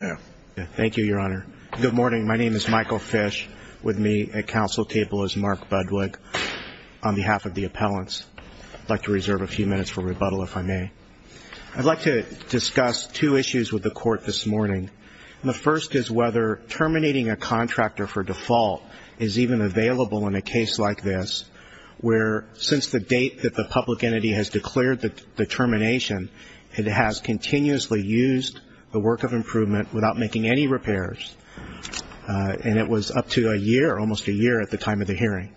Thank you, Your Honor. Good morning. My name is Michael Fish. With me at counsel table is Mark Budwig on behalf of the appellants. I'd like to reserve a few minutes for rebuttal, if I may. I'd like to discuss two issues with the Court this morning. The first is whether terminating a contractor for default is even available in a case like this, where since the date that the public entity has declared the termination, it has continuously used the work of improvement without making any repairs, and it was up to a year, almost a year, at the time of the hearing.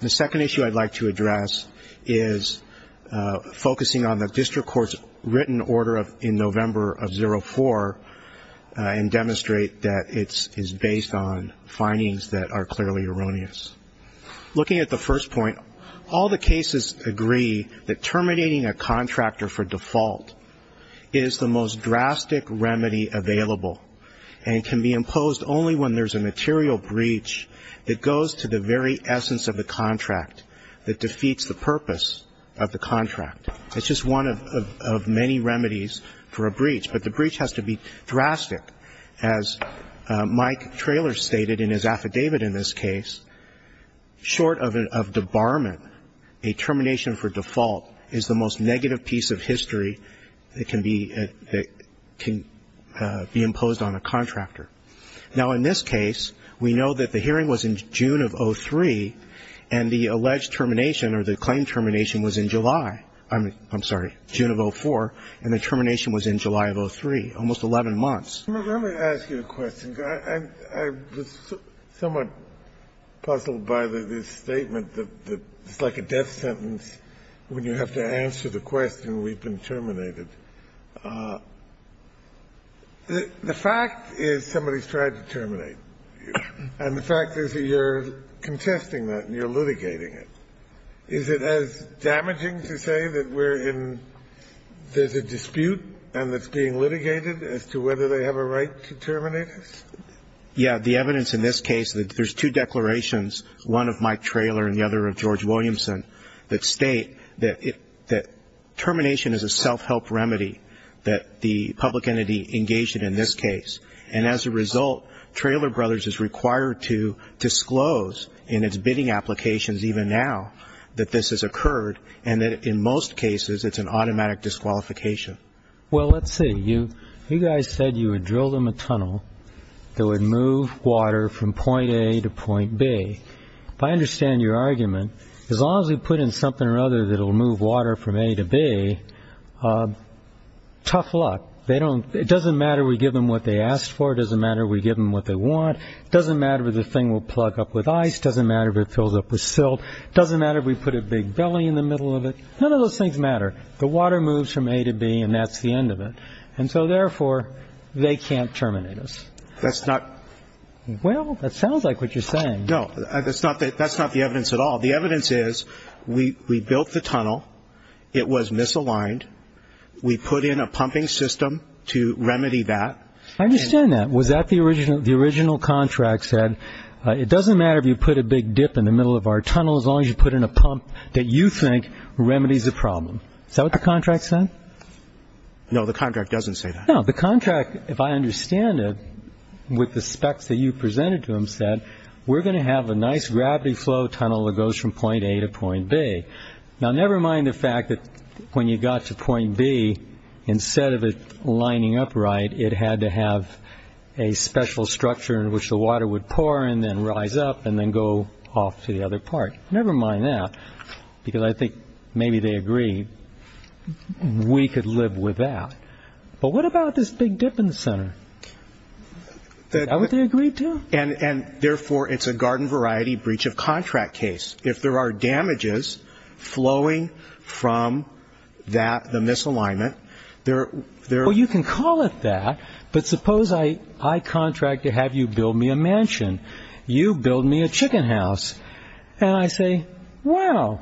The second issue I'd like to address is focusing on the district court's written order in November of 04 and demonstrate that it is based on findings that are clearly erroneous. Looking at the first point, all the cases agree that terminating a contractor for default is the most drastic remedy available and can be imposed only when there's a material breach that goes to the very essence of the contract that defeats the purpose of the contract. It's just one of many remedies for a breach, but the breach has to be drastic. As Mike Traylor stated in his affidavit in this case, short of debarment, a termination for default is the most negative piece of history that can be imposed on a contractor. Now, in this case, we know that the hearing was in June of 03, and the alleged termination or the claimed termination was in July. I'm sorry, June of 04, and the termination was in July of 03, almost 11 months. Let me ask you a question, because I was somewhat puzzled by this statement that it's like a death sentence when you have to answer the question, we've been terminated. The fact is somebody's tried to terminate, and the fact is that you're contesting that and you're litigating it. Is it as damaging to say that there's a dispute and it's being litigated as to whether they have a right to terminate us? Yeah. The evidence in this case, there's two declarations, one of Mike Traylor and the other of George Williamson, that state that termination is a self-help remedy that the public entity engaged in in this case. And as a result, Traylor Brothers is required to disclose in its bidding applications even now that this has occurred and that in most cases it's an automatic disqualification. Well, let's see. You guys said you would drill them a tunnel that would move water from point A to point B. If I understand your argument, as long as we put in something or other that will move water from A to B, tough luck. It doesn't matter if we give them what they asked for. It doesn't matter if we give them what they want. It doesn't matter if the thing will plug up with ice. It doesn't matter if it fills up with silt. It doesn't matter if we put a big belly in the middle of it. None of those things matter. The water moves from A to B, and that's the end of it. And so, therefore, they can't terminate us. That's not – Well, that sounds like what you're saying. No, that's not the evidence at all. The evidence is we built the tunnel. It was misaligned. We put in a pumping system to remedy that. I understand that. Was that the original – the original contract said, it doesn't matter if you put a big dip in the middle of our tunnel, as long as you put in a pump that you think remedies the problem. Is that what the contract said? No, the contract doesn't say that. No, the contract, if I understand it, with the specs that you presented to them, said, we're going to have a nice gravity flow tunnel that goes from point A to point B. Now, never mind the fact that when you got to point B, instead of it lining up right, it had to have a special structure in which the water would pour and then rise up and then go off to the other part. Never mind that, because I think maybe they agreed we could live with that. But what about this big dip in the center? Is that what they agreed to? And, therefore, it's a garden variety breach of contract case. If there are damages flowing from the misalignment, there are – Well, you can call it that, but suppose I contract to have you build me a mansion. You build me a chicken house. And I say, well,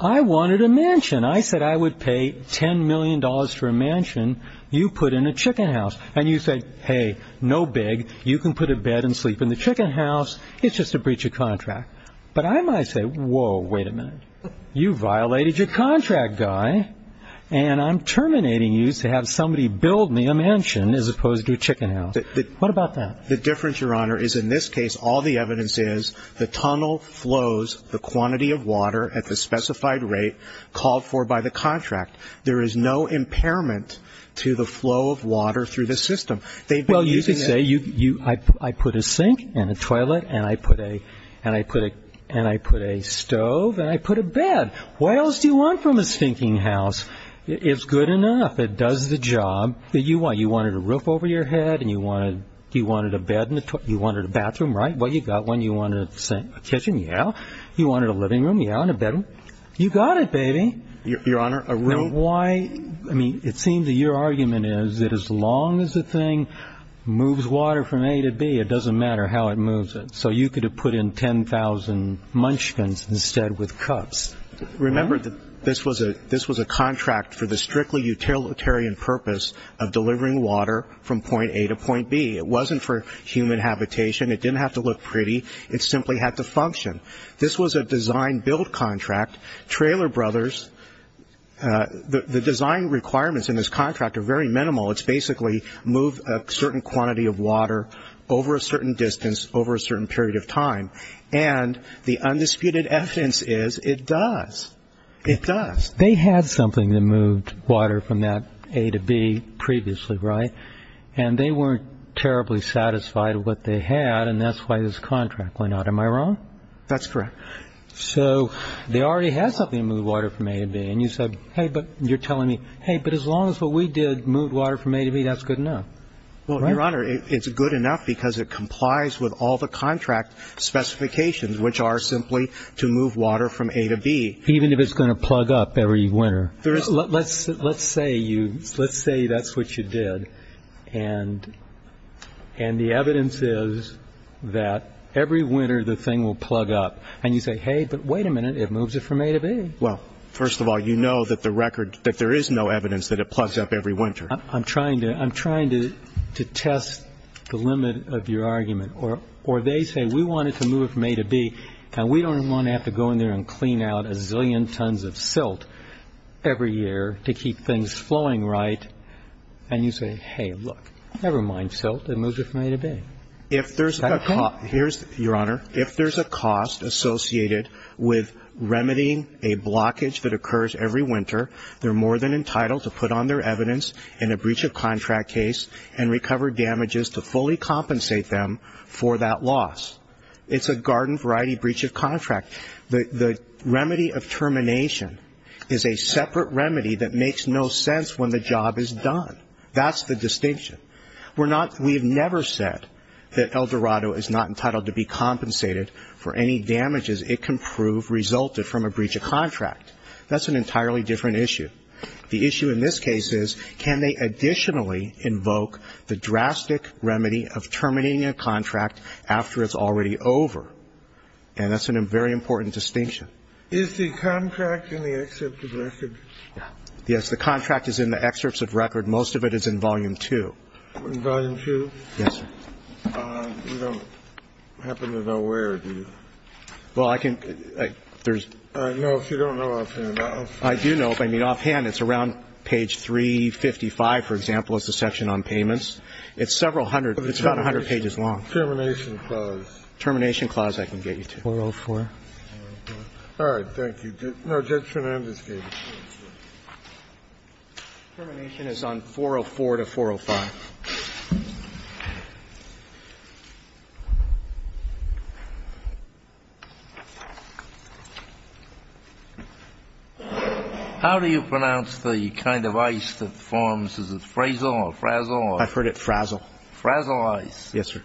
I wanted a mansion. I said I would pay $10 million for a mansion. You put in a chicken house. And you said, hey, no big. You can put a bed and sleep in the chicken house. It's just a breach of contract. But I might say, whoa, wait a minute. You violated your contract, guy. And I'm terminating you to have somebody build me a mansion as opposed to a chicken house. What about that? The difference, Your Honor, is in this case all the evidence is the tunnel flows the quantity of water at the specified rate called for by the contract. There is no impairment to the flow of water through the system. Well, you could say I put a sink and a toilet and I put a stove and I put a bed. What else do you want from a stinking house? It's good enough. It does the job that you want. You wanted a roof over your head and you wanted a bed and you wanted a bathroom, right? Well, you got one. You wanted a kitchen, yeah. You wanted a living room, yeah, and a bedroom. You got it, baby. Your Honor, a room – I mean, it seems that your argument is that as long as the thing moves water from A to B, it doesn't matter how it moves it. So you could have put in 10,000 munchkins instead with cups. Remember, this was a contract for the strictly utilitarian purpose of delivering water from point A to point B. It wasn't for human habitation. It didn't have to look pretty. It simply had to function. This was a design-build contract. Traylor Brothers, the design requirements in this contract are very minimal. It's basically move a certain quantity of water over a certain distance over a certain period of time. And the undisputed evidence is it does. It does. They had something that moved water from that A to B previously, right? And they weren't terribly satisfied with what they had, and that's why this contract went out. Am I wrong? That's correct. So they already had something to move water from A to B, and you said, hey, but you're telling me, hey, but as long as what we did moved water from A to B, that's good enough, right? Well, Your Honor, it's good enough because it complies with all the contract specifications, which are simply to move water from A to B. Even if it's going to plug up every winter. Let's say you – let's say that's what you did, and the evidence is that every winter the thing will plug up. And you say, hey, but wait a minute, it moves it from A to B. Well, first of all, you know that the record – that there is no evidence that it plugs up every winter. I'm trying to – I'm trying to test the limit of your argument. Or they say we want it to move from A to B, and we don't want to have to go in there and clean out a zillion tons of silt every year to keep things flowing right. And you say, hey, look, never mind silt, it moves it from A to B. Is that okay? Here's – Your Honor, if there's a cost associated with remedying a blockage that occurs every winter, they're more than entitled to put on their evidence in a breach of contract case and recover damages to fully compensate them for that loss. It's a garden variety breach of contract. The remedy of termination is a separate remedy that makes no sense when the job is done. That's the distinction. We're not – we have never said that El Dorado is not entitled to be compensated for any damages it can prove resulted from a breach of contract. That's an entirely different issue. The issue in this case is can they additionally invoke the drastic remedy of terminating a contract after it's already over. And that's a very important distinction. Is the contract in the excerpt of record? Yes, the contract is in the excerpts of record. Most of it is in volume two. Volume two? Yes, sir. You don't happen to know where, do you? Well, I can – there's – No, if you don't know offhand. I do know if I mean offhand. It's around page 355, for example, is the section on payments. It's several hundred – it's about 100 pages long. Termination clause. Termination clause I can get you to. 404. All right. Thank you. No, Judge Fernandez gave it to me. Termination is on 404 to 405. How do you pronounce the kind of ice that forms? Is it frazzle or frazzle? I've heard it frazzle. Frazzle ice. Yes, sir.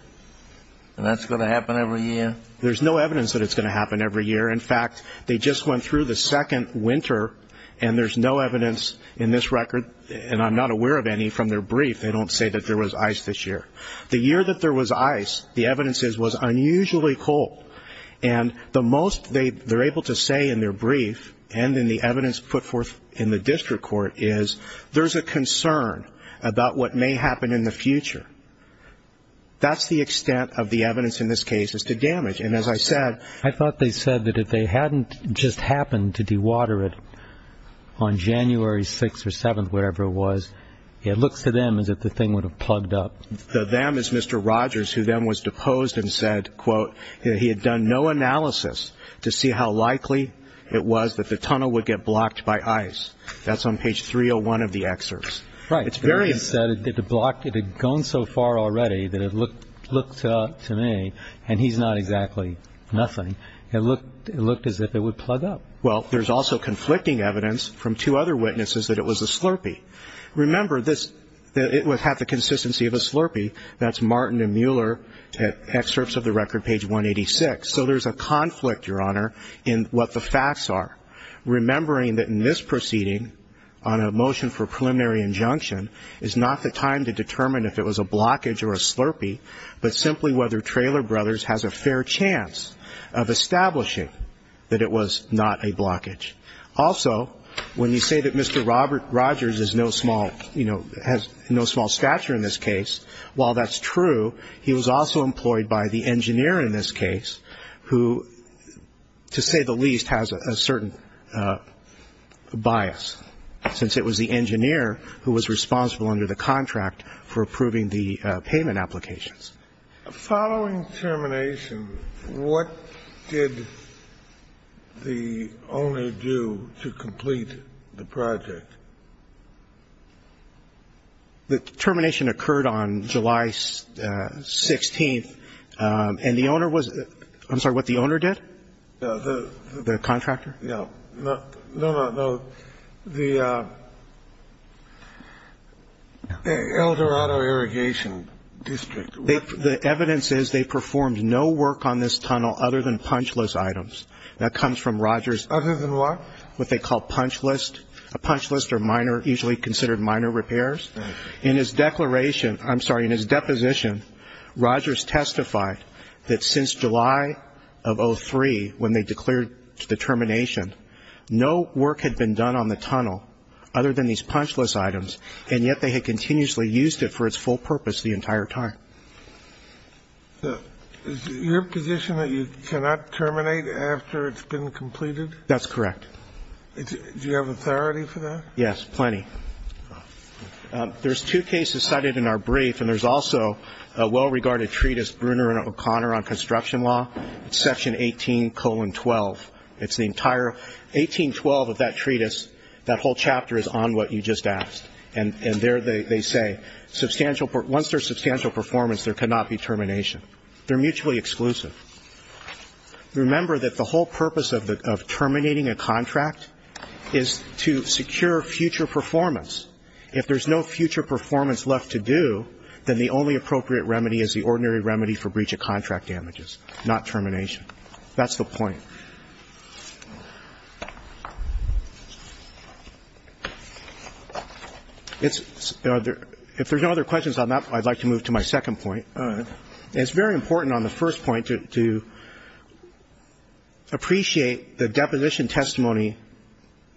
And that's going to happen every year? There's no evidence that it's going to happen every year. In fact, they just went through the second winter, and there's no evidence in this record, and I'm not aware of any, from their brief. They don't say that there was ice this year. The year that there was ice, the evidence is it was unusually cold. And the most they're able to say in their brief and in the evidence put forth in the district court is there's a concern about what may happen in the future. That's the extent of the evidence in this case as to damage. And as I said ---- I thought they said that if they hadn't just happened to dewater it on January 6th or 7th, whatever it was, it looks to them as if the thing would have plugged up. The them is Mr. Rogers, who then was deposed and said, quote, he had done no analysis to see how likely it was that the tunnel would get blocked by ice. That's on page 301 of the excerpt. Right. It's very ---- He said it had gone so far already that it looked to me, and he's not exactly nothing, it looked as if it would plug up. Well, there's also conflicting evidence from two other witnesses that it was a slurpee. Remember, it had the consistency of a slurpee. That's Martin and Mueller excerpts of the record, page 186. So there's a conflict, Your Honor, in what the facts are. Remembering that in this proceeding, on a motion for preliminary injunction, is not the time to determine if it was a blockage or a slurpee, but simply whether Traylor Brothers has a fair chance of establishing that it was not a blockage. Also, when you say that Mr. Rogers is no small, you know, has no small stature in this case, while that's true, he was also employed by the engineer in this case, who, to say the least, has a certain bias, since it was the engineer who was responsible under the contract for approving the payment applications. Following termination, what did the owner do to complete the project? The termination occurred on July 16th, and the owner was, I'm sorry, what the owner did? The contractor? Yeah. No, no, no. The Eldorado Irrigation District. The evidence is they performed no work on this tunnel other than punch list items. That comes from Rogers. Other than what? What they call punch list. A punch list are minor, usually considered minor repairs. In his declaration, I'm sorry, in his deposition, Rogers testified that since July of 03 when they declared the termination, no work had been done on the tunnel other than these punch list items, and yet they had continuously used it for its full purpose the entire time. Is your position that you cannot terminate after it's been completed? That's correct. Do you have authority for that? Yes, plenty. There's two cases cited in our brief, and there's also a well-regarded treatise, Bruner and O'Connor, on construction law. It's Section 18-12. It's the entire 18-12 of that treatise. That whole chapter is on what you just asked, and there they say, once there's substantial performance, there cannot be termination. They're mutually exclusive. Remember that the whole purpose of terminating a contract is to secure future performance. If there's no future performance left to do, then the only appropriate remedy is the ordinary remedy for breach of contract damages, not termination. That's the point. If there's no other questions on that, I'd like to move to my second point. It's very important on the first point to appreciate the deposition testimony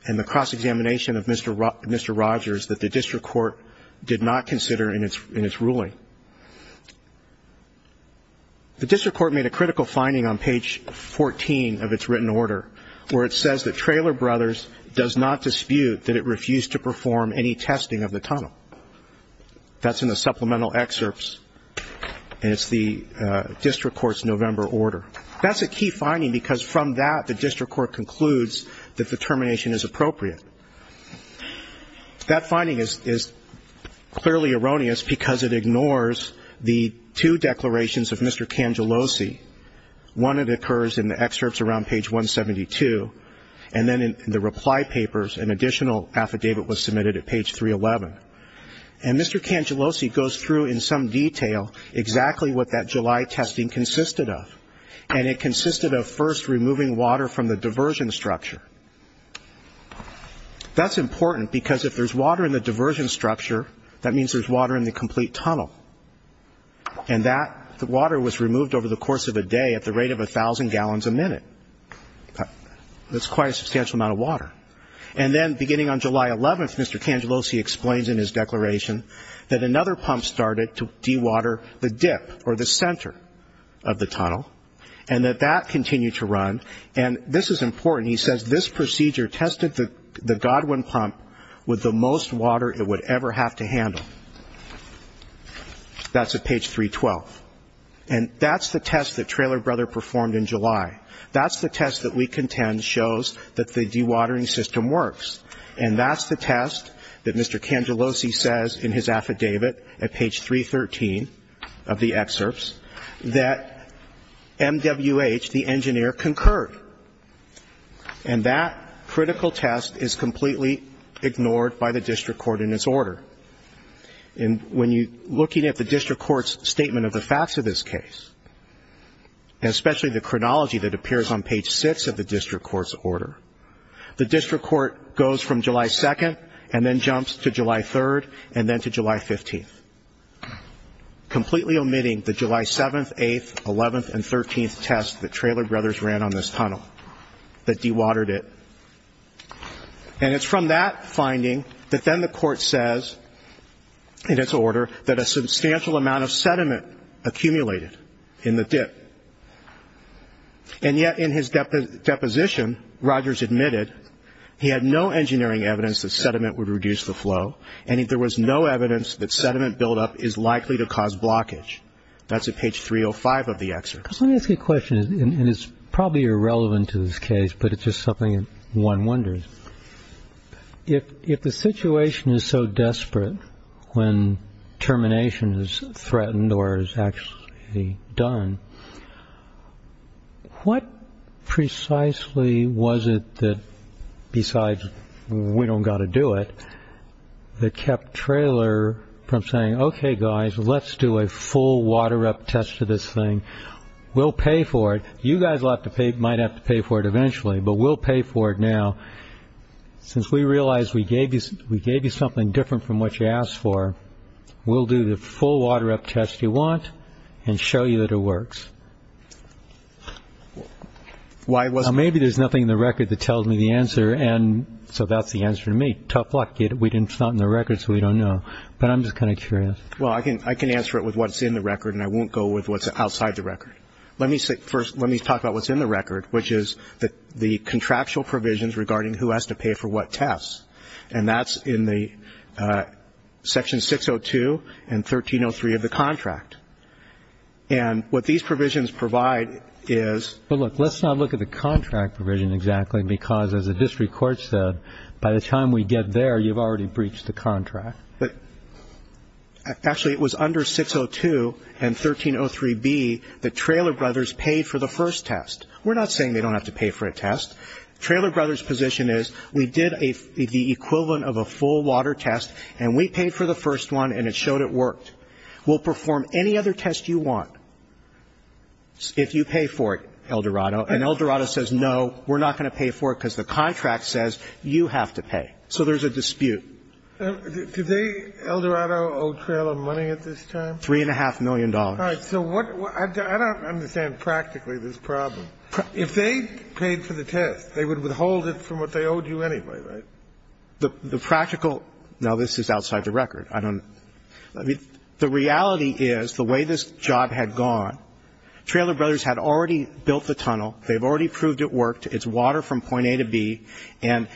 and the cross-examination of Mr. Rogers that the district court did not consider in its ruling. The district court made a critical finding on page 14 of its written order where it says that Traylor Brothers does not dispute that it refused to perform any testing of the tunnel. That's in the supplemental excerpts, and it's the district court's November order. That's a key finding because from that, the district court concludes that the termination is appropriate. That finding is clearly erroneous because it ignores the two declarations of Mr. Cangellosi. One, it occurs in the excerpts around page 172, and then in the reply papers an additional affidavit was submitted at page 311. And Mr. Cangellosi goes through in some detail exactly what that July testing consisted of, and it consisted of first removing water from the diversion structure. That's important because if there's water in the diversion structure, that means there's water in the complete tunnel, and that water was removed over the course of a day at the rate of 1,000 gallons a minute. That's quite a substantial amount of water. And then beginning on July 11th, Mr. Cangellosi explains in his declaration that another pump started to dewater the dip or the center of the tunnel, and that that continued to run. And this is important. He says this procedure tested the Godwin pump with the most water it would ever have to handle. That's at page 312. And that's the test that Traylor Brothers performed in July. That's the test that we contend shows that the dewatering system works. And that's the test that Mr. Cangellosi says in his affidavit at page 313 of the excerpts, that MWH, the engineer, concurred. And that critical test is completely ignored by the district court in its order. And when you're looking at the district court's statement of the facts of this case, and especially the chronology that appears on page 6 of the district court's order, the district court goes from July 2nd and then jumps to July 3rd and then to July 15th, completely omitting the July 7th, 8th, 11th, and 13th tests that Traylor Brothers ran on this tunnel that dewatered it. And it's from that finding that then the court says in its order that a substantial amount of sediment accumulated in the dip. And yet in his deposition, Rogers admitted he had no engineering evidence that sediment would reduce the flow and there was no evidence that sediment buildup is likely to cause blockage. That's at page 305 of the excerpts. Let me ask you a question, and it's probably irrelevant to this case, but it's just something one wonders. If the situation is so desperate when termination is threatened or is actually done, what precisely was it that, besides we don't got to do it, that kept Traylor from saying, OK, guys, let's do a full water-up test of this thing. We'll pay for it. You guys might have to pay for it eventually, but we'll pay for it now. Since we realize we gave you something different from what you asked for, we'll do the full water-up test you want and show you that it works. Maybe there's nothing in the record that tells me the answer, and so that's the answer to me. Tough luck. It's not in the record, so we don't know. But I'm just kind of curious. Well, I can answer it with what's in the record, and I won't go with what's outside the record. Let me talk about what's in the record, which is the contractual provisions regarding who has to pay for what tests, and that's in Section 602 and 1303 of the contract. And what these provisions provide is – But, look, let's not look at the contract provision exactly because, as the district court said, by the time we get there, you've already breached the contract. Actually, it was under 602 and 1303B that Traylor Brothers paid for the first test. We're not saying they don't have to pay for a test. Traylor Brothers' position is we did the equivalent of a full water test, and we paid for the first one, and it showed it worked. We'll perform any other test you want if you pay for it, El Dorado. And El Dorado says, no, we're not going to pay for it because the contract says you have to pay. So there's a dispute. Do they, El Dorado, owe Traylor money at this time? $3.5 million. All right. So what – I don't understand practically this problem. If they paid for the test, they would withhold it from what they owed you anyway, right? The practical – now, this is outside the record. I don't – I mean, the reality is the way this job had gone, Traylor Brothers had already built the tunnel. They've already proved it worked. It's water from point A to B. And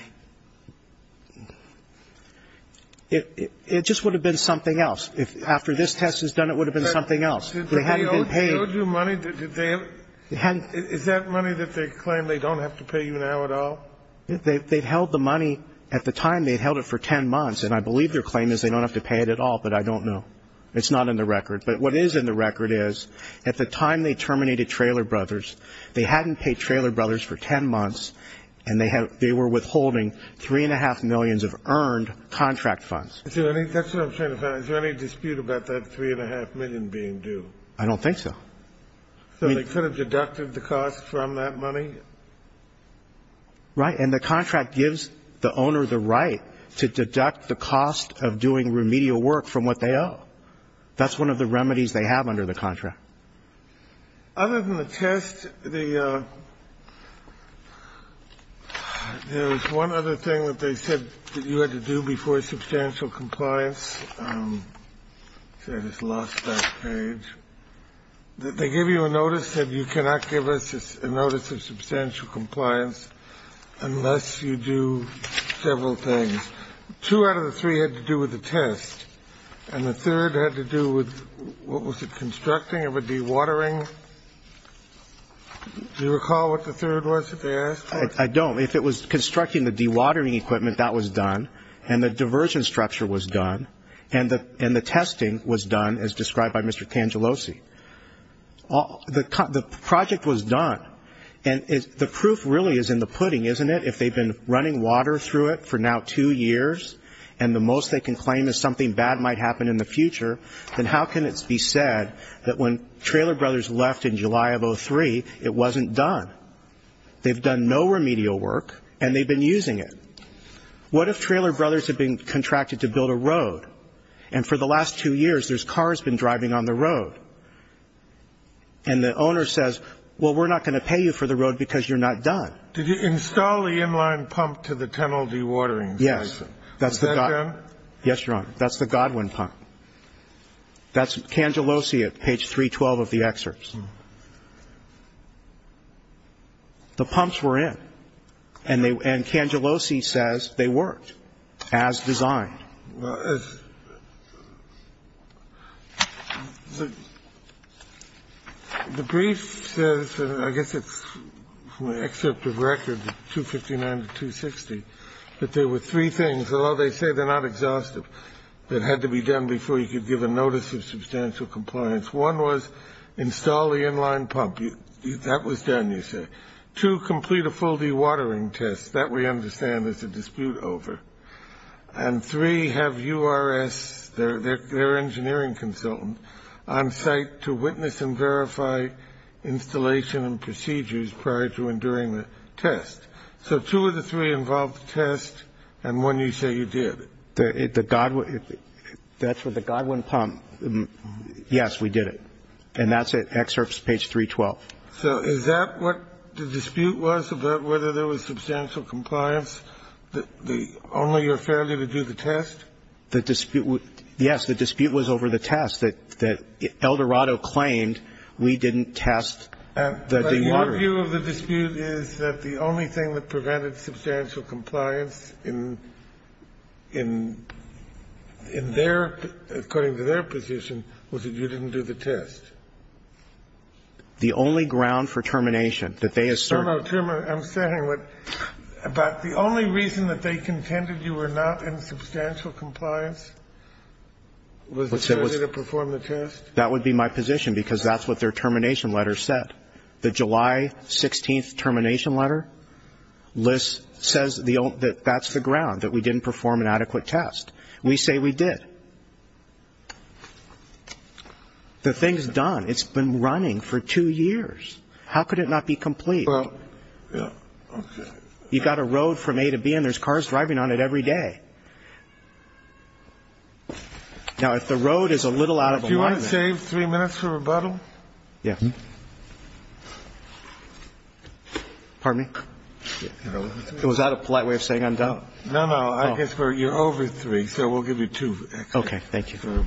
it just would have been something else. If after this test was done, it would have been something else. They hadn't been paid. Did they owe you money? Did they – is that money that they claim they don't have to pay you now at all? They held the money at the time. They held it for 10 months. And I believe their claim is they don't have to pay it at all, but I don't know. It's not in the record. But what is in the record is at the time they terminated Traylor Brothers, they hadn't paid Traylor Brothers for 10 months, and they were withholding 3.5 million of earned contract funds. Is there any – that's what I'm trying to find. Is there any dispute about that 3.5 million being due? I don't think so. So they could have deducted the cost from that money? Right. And the contract gives the owner the right to deduct the cost of doing remedial That's one of the remedies they have under the contract. Other than the test, the – there was one other thing that they said that you had to do before substantial compliance. See, I just lost that page. They give you a notice that you cannot give us a notice of substantial compliance unless you do several things. Two out of the three had to do with the test, and the third had to do with what was constructing of a dewatering. Do you recall what the third was that they asked? I don't. If it was constructing the dewatering equipment, that was done. And the diversion structure was done. And the testing was done, as described by Mr. Tangelosi. The project was done. And the proof really is in the pudding, isn't it? If they've been running water through it for now two years, and the most they can trailer brothers left in July of 03, it wasn't done. They've done no remedial work, and they've been using it. What if trailer brothers have been contracted to build a road, and for the last two years there's cars been driving on the road? And the owner says, well, we're not going to pay you for the road because you're not done. Did you install the inline pump to the tunnel dewatering system? Yes. Is that done? Yes, Your Honor. That's the Godwin pump. That's Tangelosi at page 312 of the excerpts. The pumps were in. And Tangelosi says they worked as designed. The brief says, I guess it's an excerpt of record 259 to 260, that there were three things, although they say they're not exhaustive, that had to be done before you could give a notice of substantial compliance. One was install the inline pump. That was done, you say. Two, complete a full dewatering test. That, we understand, is a dispute over. And three, have URS, their engineering consultant, on site to witness and verify installation and procedures prior to and during the test. So two of the three involved the test, and one you say you did. The Godwin – that's for the Godwin pump. Yes, we did it. And that's at excerpts page 312. So is that what the dispute was about whether there was substantial compliance, the only or fairly to do the test? The dispute – yes, the dispute was over the test that Eldorado claimed we didn't test the dewatering. Your view of the dispute is that the only thing that prevented substantial compliance in their – according to their position was that you didn't do the test. The only ground for termination that they asserted – No, no, I'm saying what – about the only reason that they contended you were not in substantial compliance was the ability to perform the test? That would be my position, because that's what their termination letter said. The July 16th termination letter says that that's the ground, that we didn't perform an adequate test. We say we did. The thing is done. It's been running for two years. How could it not be complete? Well, yeah, okay. You've got a road from A to B, and there's cars driving on it every day. Now, if the road is a little out of alignment – Do you want to save three minutes for rebuttal? Yeah. Pardon me? Was that a polite way of saying I'm done? No, no. I guess we're – you're over three, so we'll give you two. Okay. Thank you.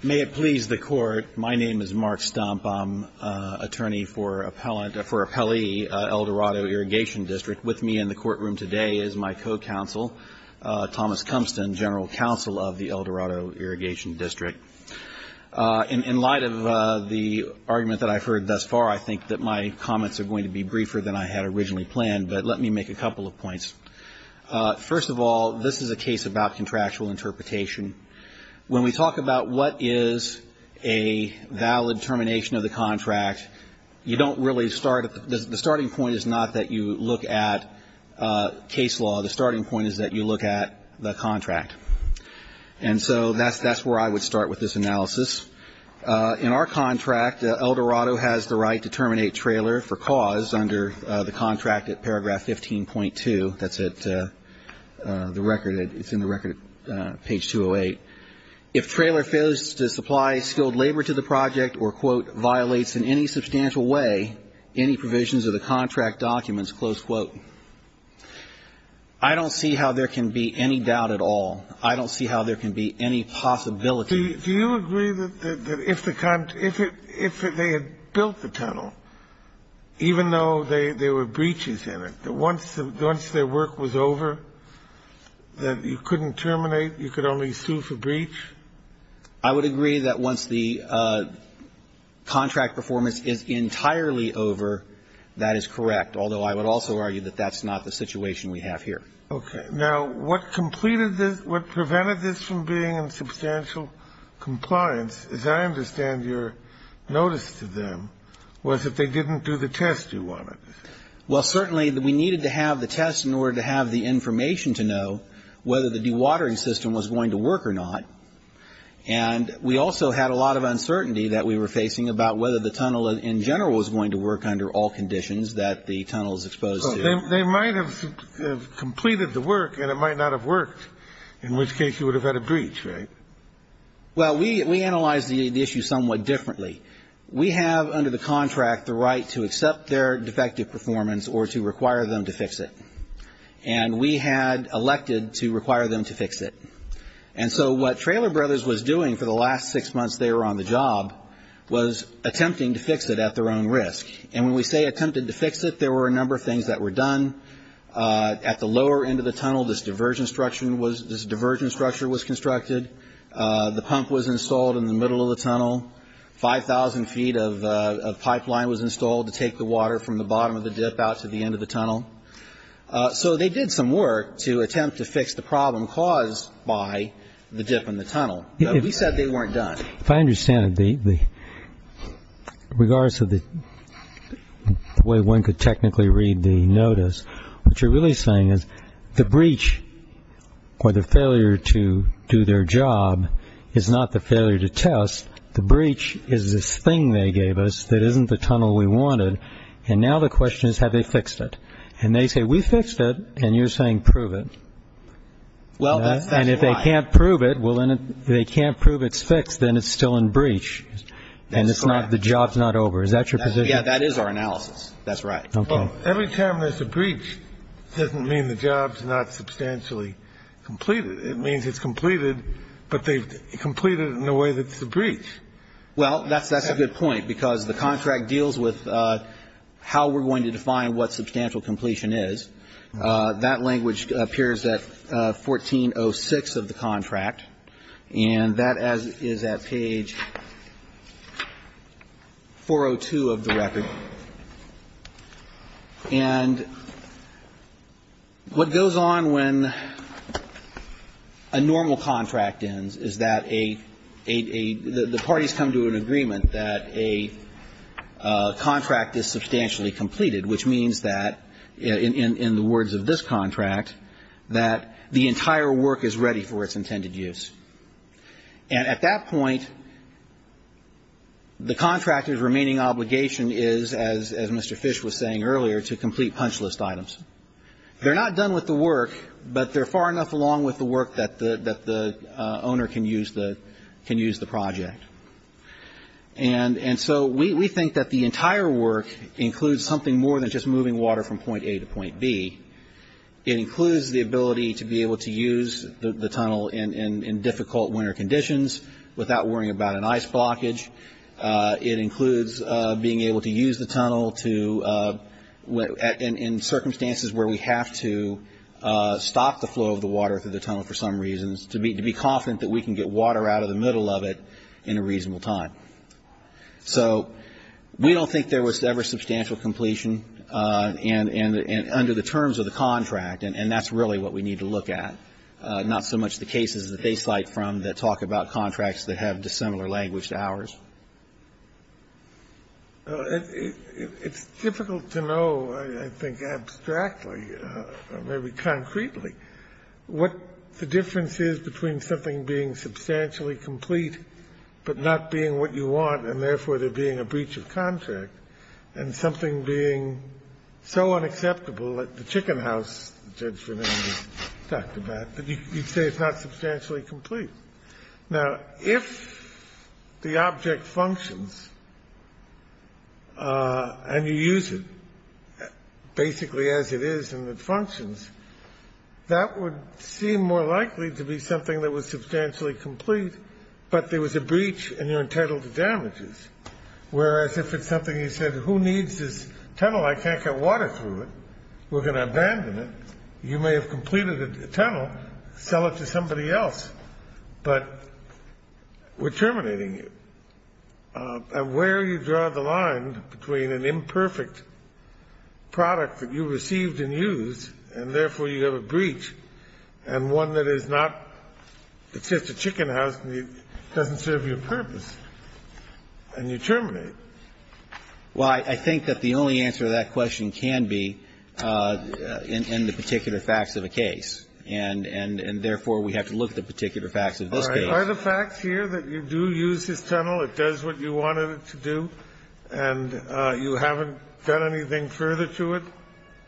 May it please the Court. My name is Mark Stump. I'm attorney for appellant – for appellee Eldorado Irrigation District. With me in the courtroom today is my co-counsel, Thomas Cumston, general counsel of the Eldorado Irrigation District. In light of the argument that I've heard thus far, I think that my comments are going to be briefer than I had originally planned, but let me make a couple of points. First of all, this is a case about contractual interpretation. When we talk about what is a valid termination of the contract, you don't really start – the starting point is not that you look at case law. The starting point is that you look at the contract. And so that's where I would start with this analysis. In our contract, Eldorado has the right to terminate trailer for cause under the contract at paragraph 15.2. That's at the record – it's in the record at page 208. If trailer fails to supply skilled labor to the project or, quote, violates in any substantial way any provisions of the contract documents, close quote, I don't see how there can be any doubt at all. I don't see how there can be any possibility. Do you agree that if the – if they had built the tunnel, even though there were breaches in it, that once their work was over, that you couldn't terminate? You could only sue for breach? I would agree that once the contract performance is entirely over, that is correct, although I would also argue that that's not the situation we have here. Okay. Now, what completed this – what prevented this from being in substantial compliance, as I understand your notice to them, was that they didn't do the test you wanted. Well, certainly we needed to have the test in order to have the information to know whether the dewatering system was going to work or not. And we also had a lot of uncertainty that we were facing about whether the tunnel in general was going to work under all conditions that the tunnel is exposed to. So they might have completed the work and it might not have worked, in which case you would have had a breach, right? Well, we analyzed the issue somewhat differently. We have under the contract the right to accept their defective performance or to require them to fix it. And we had elected to require them to fix it. And so what Traylor Brothers was doing for the last six months they were on the job was attempting to fix it at their own risk. And when we say attempted to fix it, there were a number of things that were done. At the lower end of the tunnel, this diversion structure was constructed. The pump was installed in the middle of the tunnel. Five thousand feet of pipeline was installed to take the water from the bottom of the dip out to the end of the tunnel. So they did some work to attempt to fix the problem caused by the dip in the tunnel. But we said they weren't done. If I understand it, in regards to the way one could technically read the notice, what you're really saying is the breach or the failure to do their job is not the failure to test. The breach is this thing they gave us that isn't the tunnel we wanted. And now the question is have they fixed it. And they say we fixed it. And you're saying prove it. Well, that's right. And if they can't prove it, well, then they can't prove it's fixed. Then it's still in breach. And it's not the job's not over. Is that your position? Yeah, that is our analysis. That's right. Every time there's a breach doesn't mean the job's not substantially completed. It means it's completed, but they've completed it in a way that's a breach. Well, that's a good point, because the contract deals with how we're going to define what substantial completion is. That language appears at 1406 of the contract. And that is at page 402 of the record. And what goes on when a normal contract ends is that a the parties come to an agreement that a contract is substantially completed, which means that in the words of this contract, that the entire work is ready for its intended use. And at that point, the contractor's remaining obligation is, as Mr. Fish was saying earlier, to complete punch list items. They're not done with the work, but they're far enough along with the work that the owner can use the project. And so we think that the entire work includes something more than just moving water from point A to point B. It includes the ability to be able to use the tunnel in difficult winter conditions without worrying about an ice blockage. It includes being able to use the tunnel in circumstances where we have to stop the flow of the water through the tunnel for some reasons to be confident that we can get water out of the middle of it in a reasonable time. So we don't think there was ever substantial completion and under the terms of the contract, and that's really what we need to look at, not so much the cases that they cite from that talk about contracts that have dissimilar language to ours. It's difficult to know, I think, abstractly or maybe concretely, what the difference is between something being substantially complete but not being what you want and therefore there being a breach of contract, and something being so unacceptable like the chicken house Judge Fernandez talked about, that you'd say it's not substantially complete. Now, if the object functions and you use it basically as it is and it functions, that would seem more likely to be something that was substantially complete, but there was a breach and you're entitled to damages. Whereas if it's something you said, who needs this tunnel, I can't get water through it, we're going to abandon it, you may have completed the tunnel, sell it to somebody else, but we're terminating you. Where you draw the line between an imperfect product that you received and used and therefore you have a breach, and one that is not, it's just a chicken house and it doesn't serve your purpose, and you terminate. Well, I think that the only answer to that question can be in the particular facts of a case. And therefore, we have to look at the particular facts of this case. Are the facts here that you do use this tunnel, it does what you wanted it to do, and you haven't done anything further to it?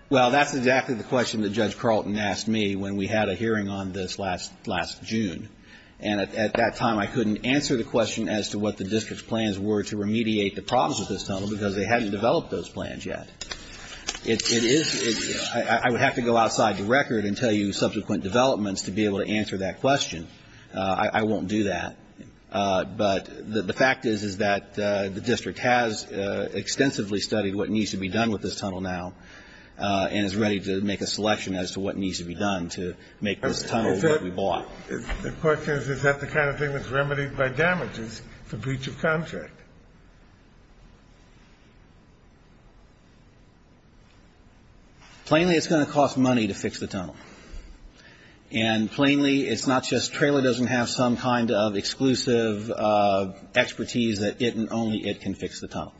Well, that's exactly the question that Judge Carlton asked me when we had a hearing on this last June. And at that time, I couldn't answer the question as to what the district's plans were to remediate the problems of this tunnel because they hadn't developed those plans yet. It is, I would have to go outside the record and tell you subsequent developments to be able to answer that question. I won't do that. But the fact is, is that the district has extensively studied what needs to be done with this tunnel now and is ready to make a selection as to what needs to be done to make this tunnel what we bought. The question is, is that the kind of thing that's remedied by damages for breach of contract? Plainly, it's going to cost money to fix the tunnel. And plainly, it's not just trailer doesn't have some kind of exclusive expertise that it and only it can fix the tunnel.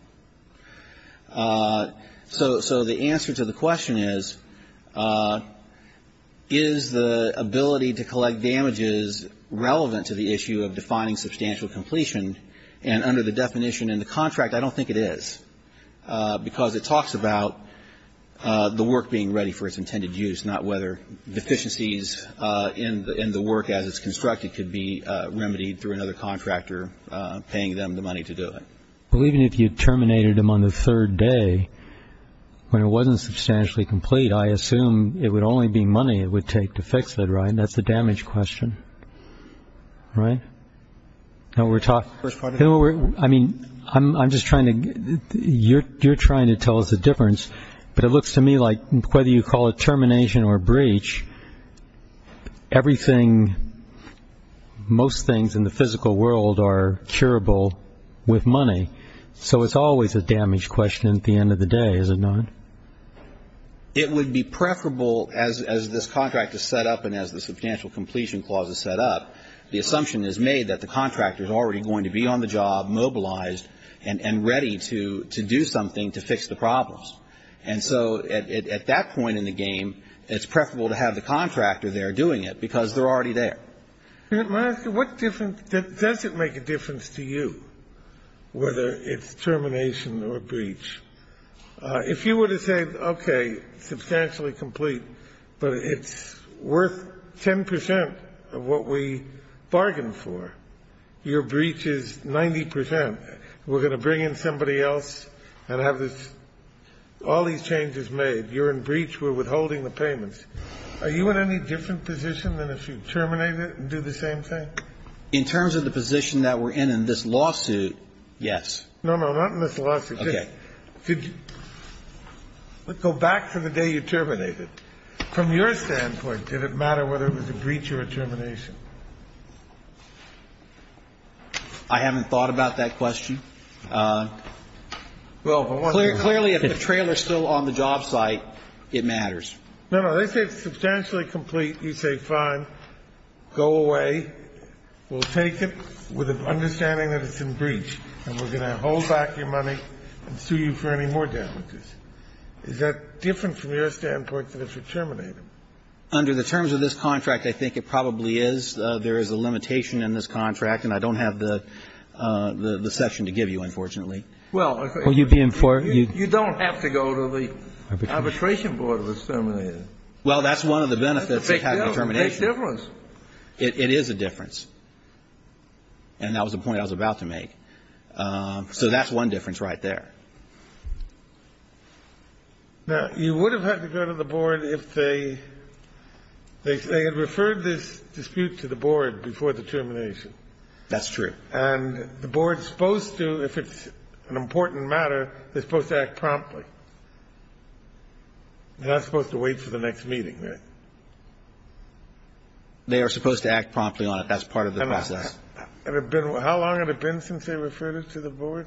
So the answer to the question is, is the ability to collect damages relevant to the issue of defining substantial completion? And under the definition in the contract, I don't think it is because it talks about the work being ready for its intended use, not whether deficiencies in the work as it's constructed could be remedied through another contractor paying them the money to do it. Well, even if you terminated them on the third day, when it wasn't substantially complete, I assume it would only be money it would take to fix it, right? That's the damage question, right? I mean, you're trying to tell us the difference, but it looks to me like whether you call it termination or breach, everything, most things in the physical world are curable with money. So it's always a damage question at the end of the day, is it not? It would be preferable as this contract is set up and as the substantial completion clause is set up, the assumption is made that the contractor is already going to be on the job, mobilized and ready to do something to fix the problems. And so at that point in the game, it's preferable to have the contractor there doing it because they're already there. May I ask you, what difference, does it make a difference to you whether it's termination or breach? If you were to say, okay, substantially complete, but it's worth 10 percent of what we bargained for. Your breach is 90 percent. We're going to bring in somebody else and have this, all these changes made. You're in breach. We're withholding the payments. Are you in any different position than if you terminate it and do the same thing? In terms of the position that we're in in this lawsuit, yes. No, no, not in this lawsuit. Okay. Go back to the day you terminate it. From your standpoint, did it matter whether it was a breach or a termination? I haven't thought about that question. Well, clearly if the trailer is still on the job site, it matters. No, no. They say substantially complete. You say, fine, go away. We'll take it with an understanding that it's in breach and we're going to hold back your money and sue you for any more damages. Is that different from your standpoint than if you terminate it? Under the terms of this contract, I think it probably is. There is a limitation in this contract, and I don't have the section to give you, unfortunately. Well, you don't have to go to the arbitration board if it's terminated. Well, that's one of the benefits of having a termination. It makes a difference. It is a difference. And that was the point I was about to make. So that's one difference right there. Now, you would have had to go to the board if they had referred this dispute to the board before the termination. That's true. And the board's supposed to, if it's an important matter, they're supposed to act promptly. They're not supposed to wait for the next meeting, right? They are supposed to act promptly on it. That's part of the process. How long had it been since they referred it to the board?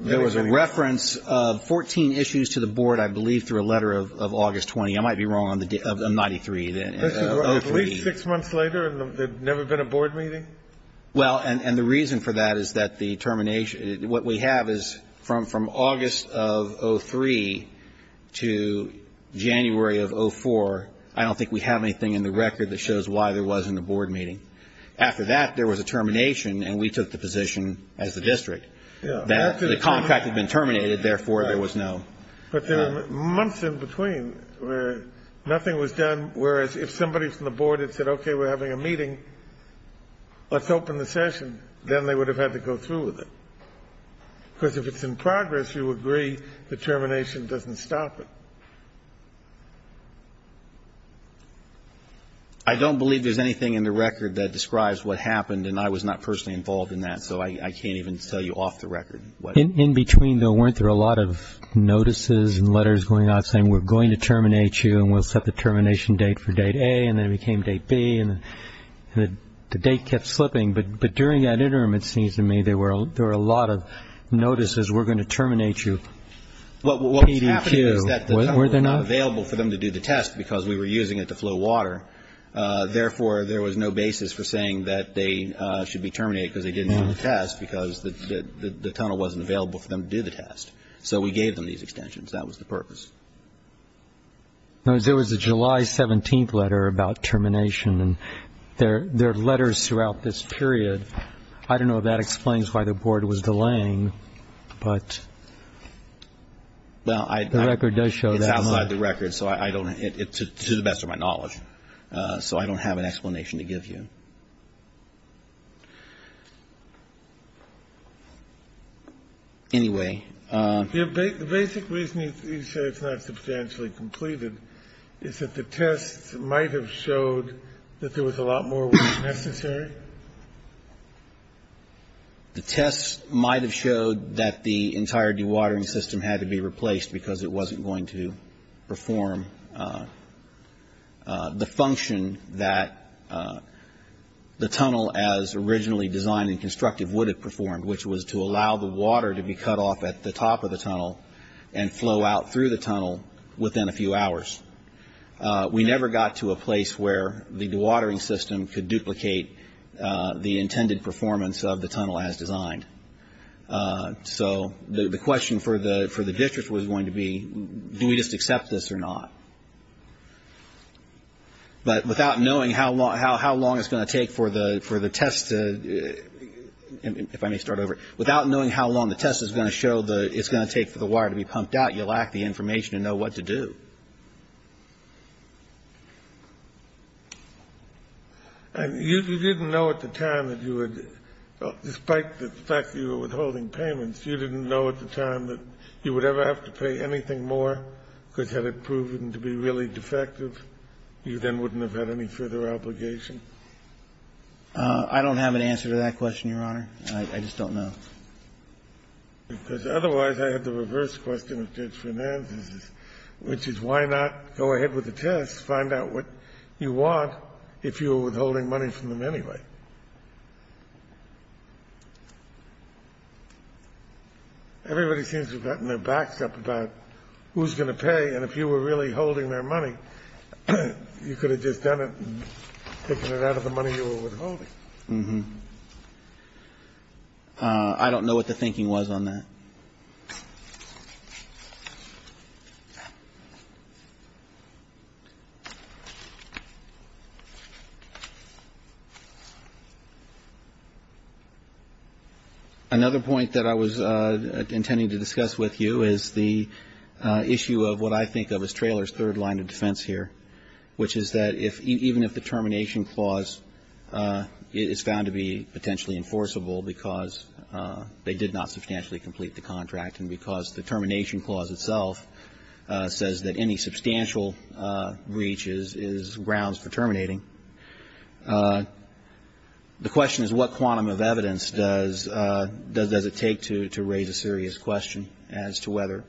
There was a reference of 14 issues to the board, I believe, through a letter of August 20. I might be wrong. Of 93. At least six months later, and there had never been a board meeting? Well, and the reason for that is that the termination, what we have is from August of 03 to January of 04, I don't think we have anything in the record that shows why there wasn't a board meeting. After that, there was a termination, and we took the position as the district that the contract had been terminated, therefore, there was no. But there were months in between where nothing was done, whereas if somebody from the board had said, okay, we're having a meeting, let's open the session, then they would have had to go through with it. Because if it's in progress, you agree the termination doesn't stop it. I don't believe there's anything in the record that describes what happened, and I was not personally involved in that, so I can't even tell you off the record. In between, though, weren't there a lot of notices and letters going out saying we're going to terminate you and we'll set the termination date for date A, and then it became date B, and the date kept slipping? But during that interim, it seems to me, there were a lot of notices, we're going to terminate you. What was happening was that the tunnel was not available for them to do the test because we were using it to flow water. Therefore, there was no basis for saying that they should be terminated because they didn't do the test because the tunnel wasn't available for them to do the test. So we gave them these extensions. That was the purpose. There was a July 17th letter about termination, and there are letters throughout this period. I don't know if that explains why the Board was delaying, but the record does show that. It's outside the record, to the best of my knowledge. So I don't have an explanation to give you. Anyway. The basic reason you say it's not substantially completed is that the test might have showed that there was a lot more work necessary? The test might have showed that the entire dewatering system had to be replaced because it wasn't going to perform the function that the tunnel, as originally designed and constructive, would have performed, which was to allow the water to be cut off at the top of the tunnel and flow out through the tunnel within a few hours. We never got to a place where the dewatering system could duplicate the intended performance of the tunnel as designed. So the question for the district was going to be, do we just accept this or not? But without knowing how long it's going to take for the test to, if I may start over, without knowing how long the test is going to show it's going to take for the water to be pumped out, you lack the information to know what to do. And you didn't know at the time that you would, despite the fact that you were withholding payments, you didn't know at the time that you would ever have to pay anything more? Because had it proven to be really defective, you then wouldn't have had any further obligation? I don't have an answer to that question, Your Honor. I just don't know. Because otherwise I had the reverse question of Judge Fernandez's, which is why not go ahead with the test, find out what you want, if you were withholding money from them anyway? Everybody seems to have gotten their backs up about who's going to pay, and if you were really holding their money, you could have just done it and taken it out of the money you were withholding. Mm-hmm. I don't know what the thinking was on that. Another point that I was intending to discuss with you is the issue of what I think of as Traylor's third line of defense here, which is that even if the termination clause is found to be potentially enforceable because they did not substantially complete the contract and because the termination clause itself says that any substantial breach is grounds for terminating, the question is what quantum of evidence does it take to raise a serious question as to whether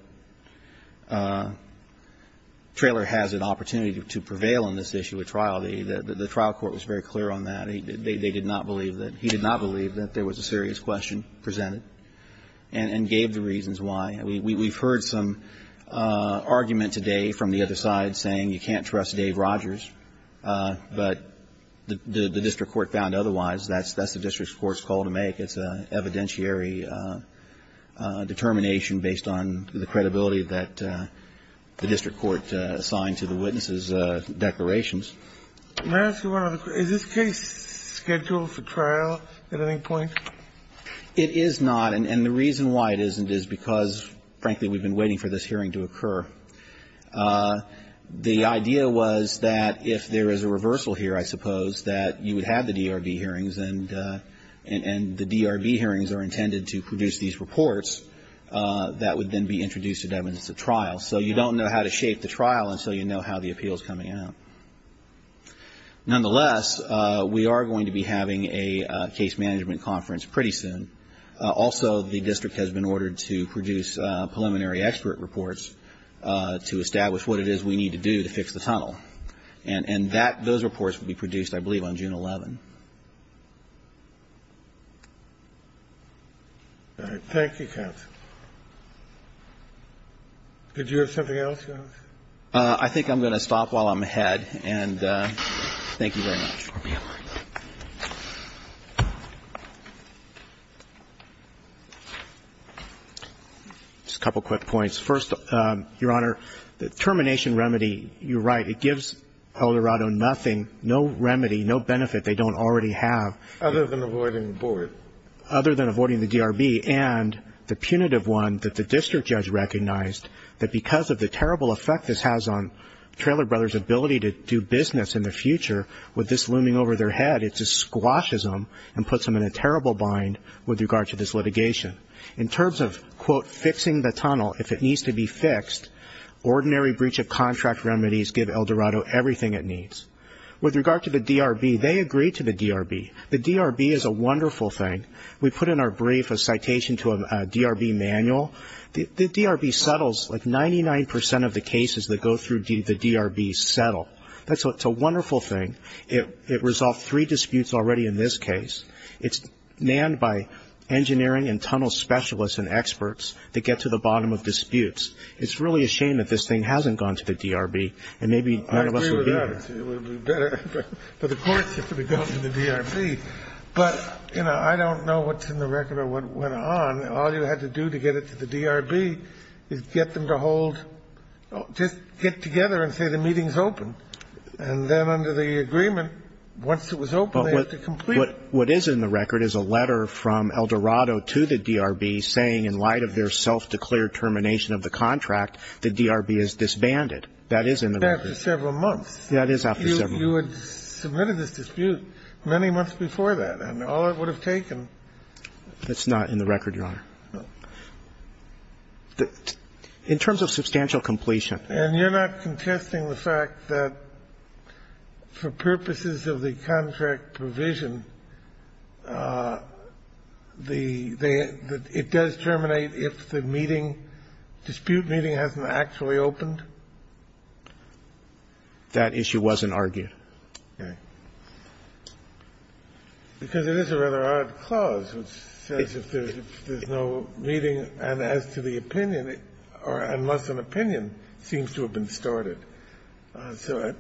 Traylor has an opportunity to prevail in this issue at trial? The trial court was very clear on that. They did not believe that he did not believe that there was a serious question presented and gave the reasons why. We've heard some argument today from the other side saying you can't trust Dave Rogers, but the district court found otherwise. That's the district court's call to make. It's an evidentiary determination based on the credibility that the district court assigned to the witnesses' declarations. May I ask you one other question? Is this case scheduled for trial at any point? It is not, and the reason why it isn't is because, frankly, we've been waiting for this hearing to occur. The idea was that if there is a reversal here, I suppose, that you would have the DRD hearings and the DRB hearings are intended to produce these reports that would then be introduced to evidence at trial. So you don't know how to shape the trial until you know how the appeal is coming out. Nonetheless, we are going to be having a case management conference pretty soon. Also, the district has been ordered to produce preliminary expert reports to establish what it is we need to do to fix the tunnel. And that, those reports will be produced, I believe, on June 11. Thank you, counsel. Did you have something else, Your Honor? I think I'm going to stop while I'm ahead, and thank you very much. Just a couple quick points. Your Honor, the termination remedy, you're right, it gives El Dorado nothing, no remedy, no benefit they don't already have. Other than avoiding the board. Other than avoiding the DRB, and the punitive one that the district judge recognized, that because of the terrible effect this has on Traylor Brothers' ability to do business in the future, with this looming over their head, it just squashes them and puts them in a terrible bind with regard to this litigation. In terms of, quote, fixing the tunnel, if it needs to be fixed, ordinary breach of contract remedies give El Dorado everything it needs. With regard to the DRB, they agree to the DRB. The DRB is a wonderful thing. We put in our brief a citation to a DRB manual. The DRB settles like 99% of the cases that go through the DRB settle. It's a wonderful thing. It resolved three disputes already in this case. It's nanned by engineering and tunnel specialists and experts to get to the bottom of disputes. It's really a shame that this thing hasn't gone to the DRB, and maybe none of us would be here. Kennedy. I agree with that. It would be better for the courts to go to the DRB. But, you know, I don't know what's in the record or what went on. All you had to do to get it to the DRB is get them to hold, just get together and say the meeting's open, and then under the agreement, once it was open, they have to complete it. What is in the record is a letter from Eldorado to the DRB saying, in light of their self-declared termination of the contract, the DRB is disbanded. That is in the record. That's after several months. That is after several months. You had submitted this dispute many months before that, and all it would have taken. That's not in the record, Your Honor. In terms of substantial completion. And you're not contesting the fact that for purposes of the contract provision, the the the it does terminate if the meeting, dispute meeting, hasn't actually opened? That issue wasn't argued. Okay. Because it is a rather odd clause, which says if there's no meeting, and as to the case, it seems to have been started. So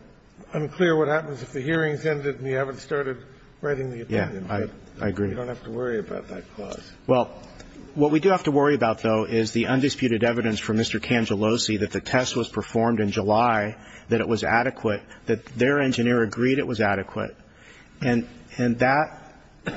unclear what happens if the hearing's ended and you haven't started writing the opinion. Yeah. I agree. You don't have to worry about that clause. Well, what we do have to worry about, though, is the undisputed evidence from Mr. Cangellosi that the test was performed in July, that it was adequate, that their engineer agreed it was adequate. And that,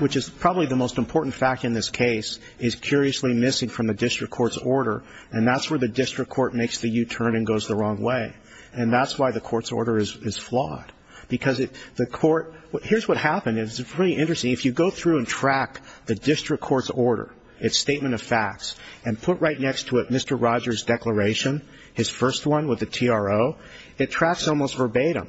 which is probably the most important fact in this case, is curiously from the district court's order. And that's where the district court makes the U-turn and goes the wrong way. And that's why the court's order is flawed. Because the court here's what happened. It's really interesting. If you go through and track the district court's order, its statement of facts, and put right next to it Mr. Rogers' declaration, his first one with the TRO, it tracks almost verbatim.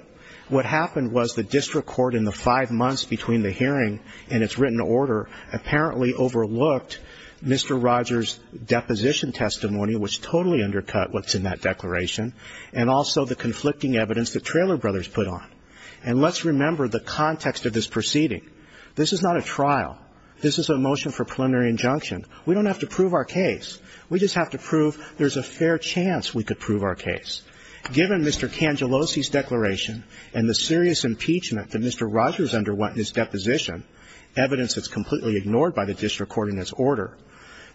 What happened was the district court in the five months between the hearing and its written order apparently overlooked Mr. Rogers' deposition testimony, which totally undercut what's in that declaration, and also the conflicting evidence that Traylor Brothers put on. And let's remember the context of this proceeding. This is not a trial. This is a motion for preliminary injunction. We don't have to prove our case. We just have to prove there's a fair chance we could prove our case. It's completely under what Mr. Rogers' deposition, evidence that's completely ignored by the district court in its order.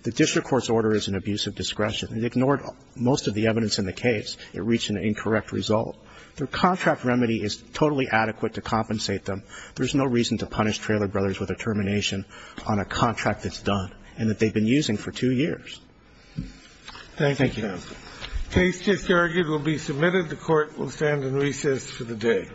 The district court's order is an abuse of discretion. It ignored most of the evidence in the case. It reached an incorrect result. The contract remedy is totally adequate to compensate them. There's no reason to punish Traylor Brothers with a termination on a contract that's done and that they've been using for two years. Thank you. Case just argued will be submitted. The court will stand in recess for the day.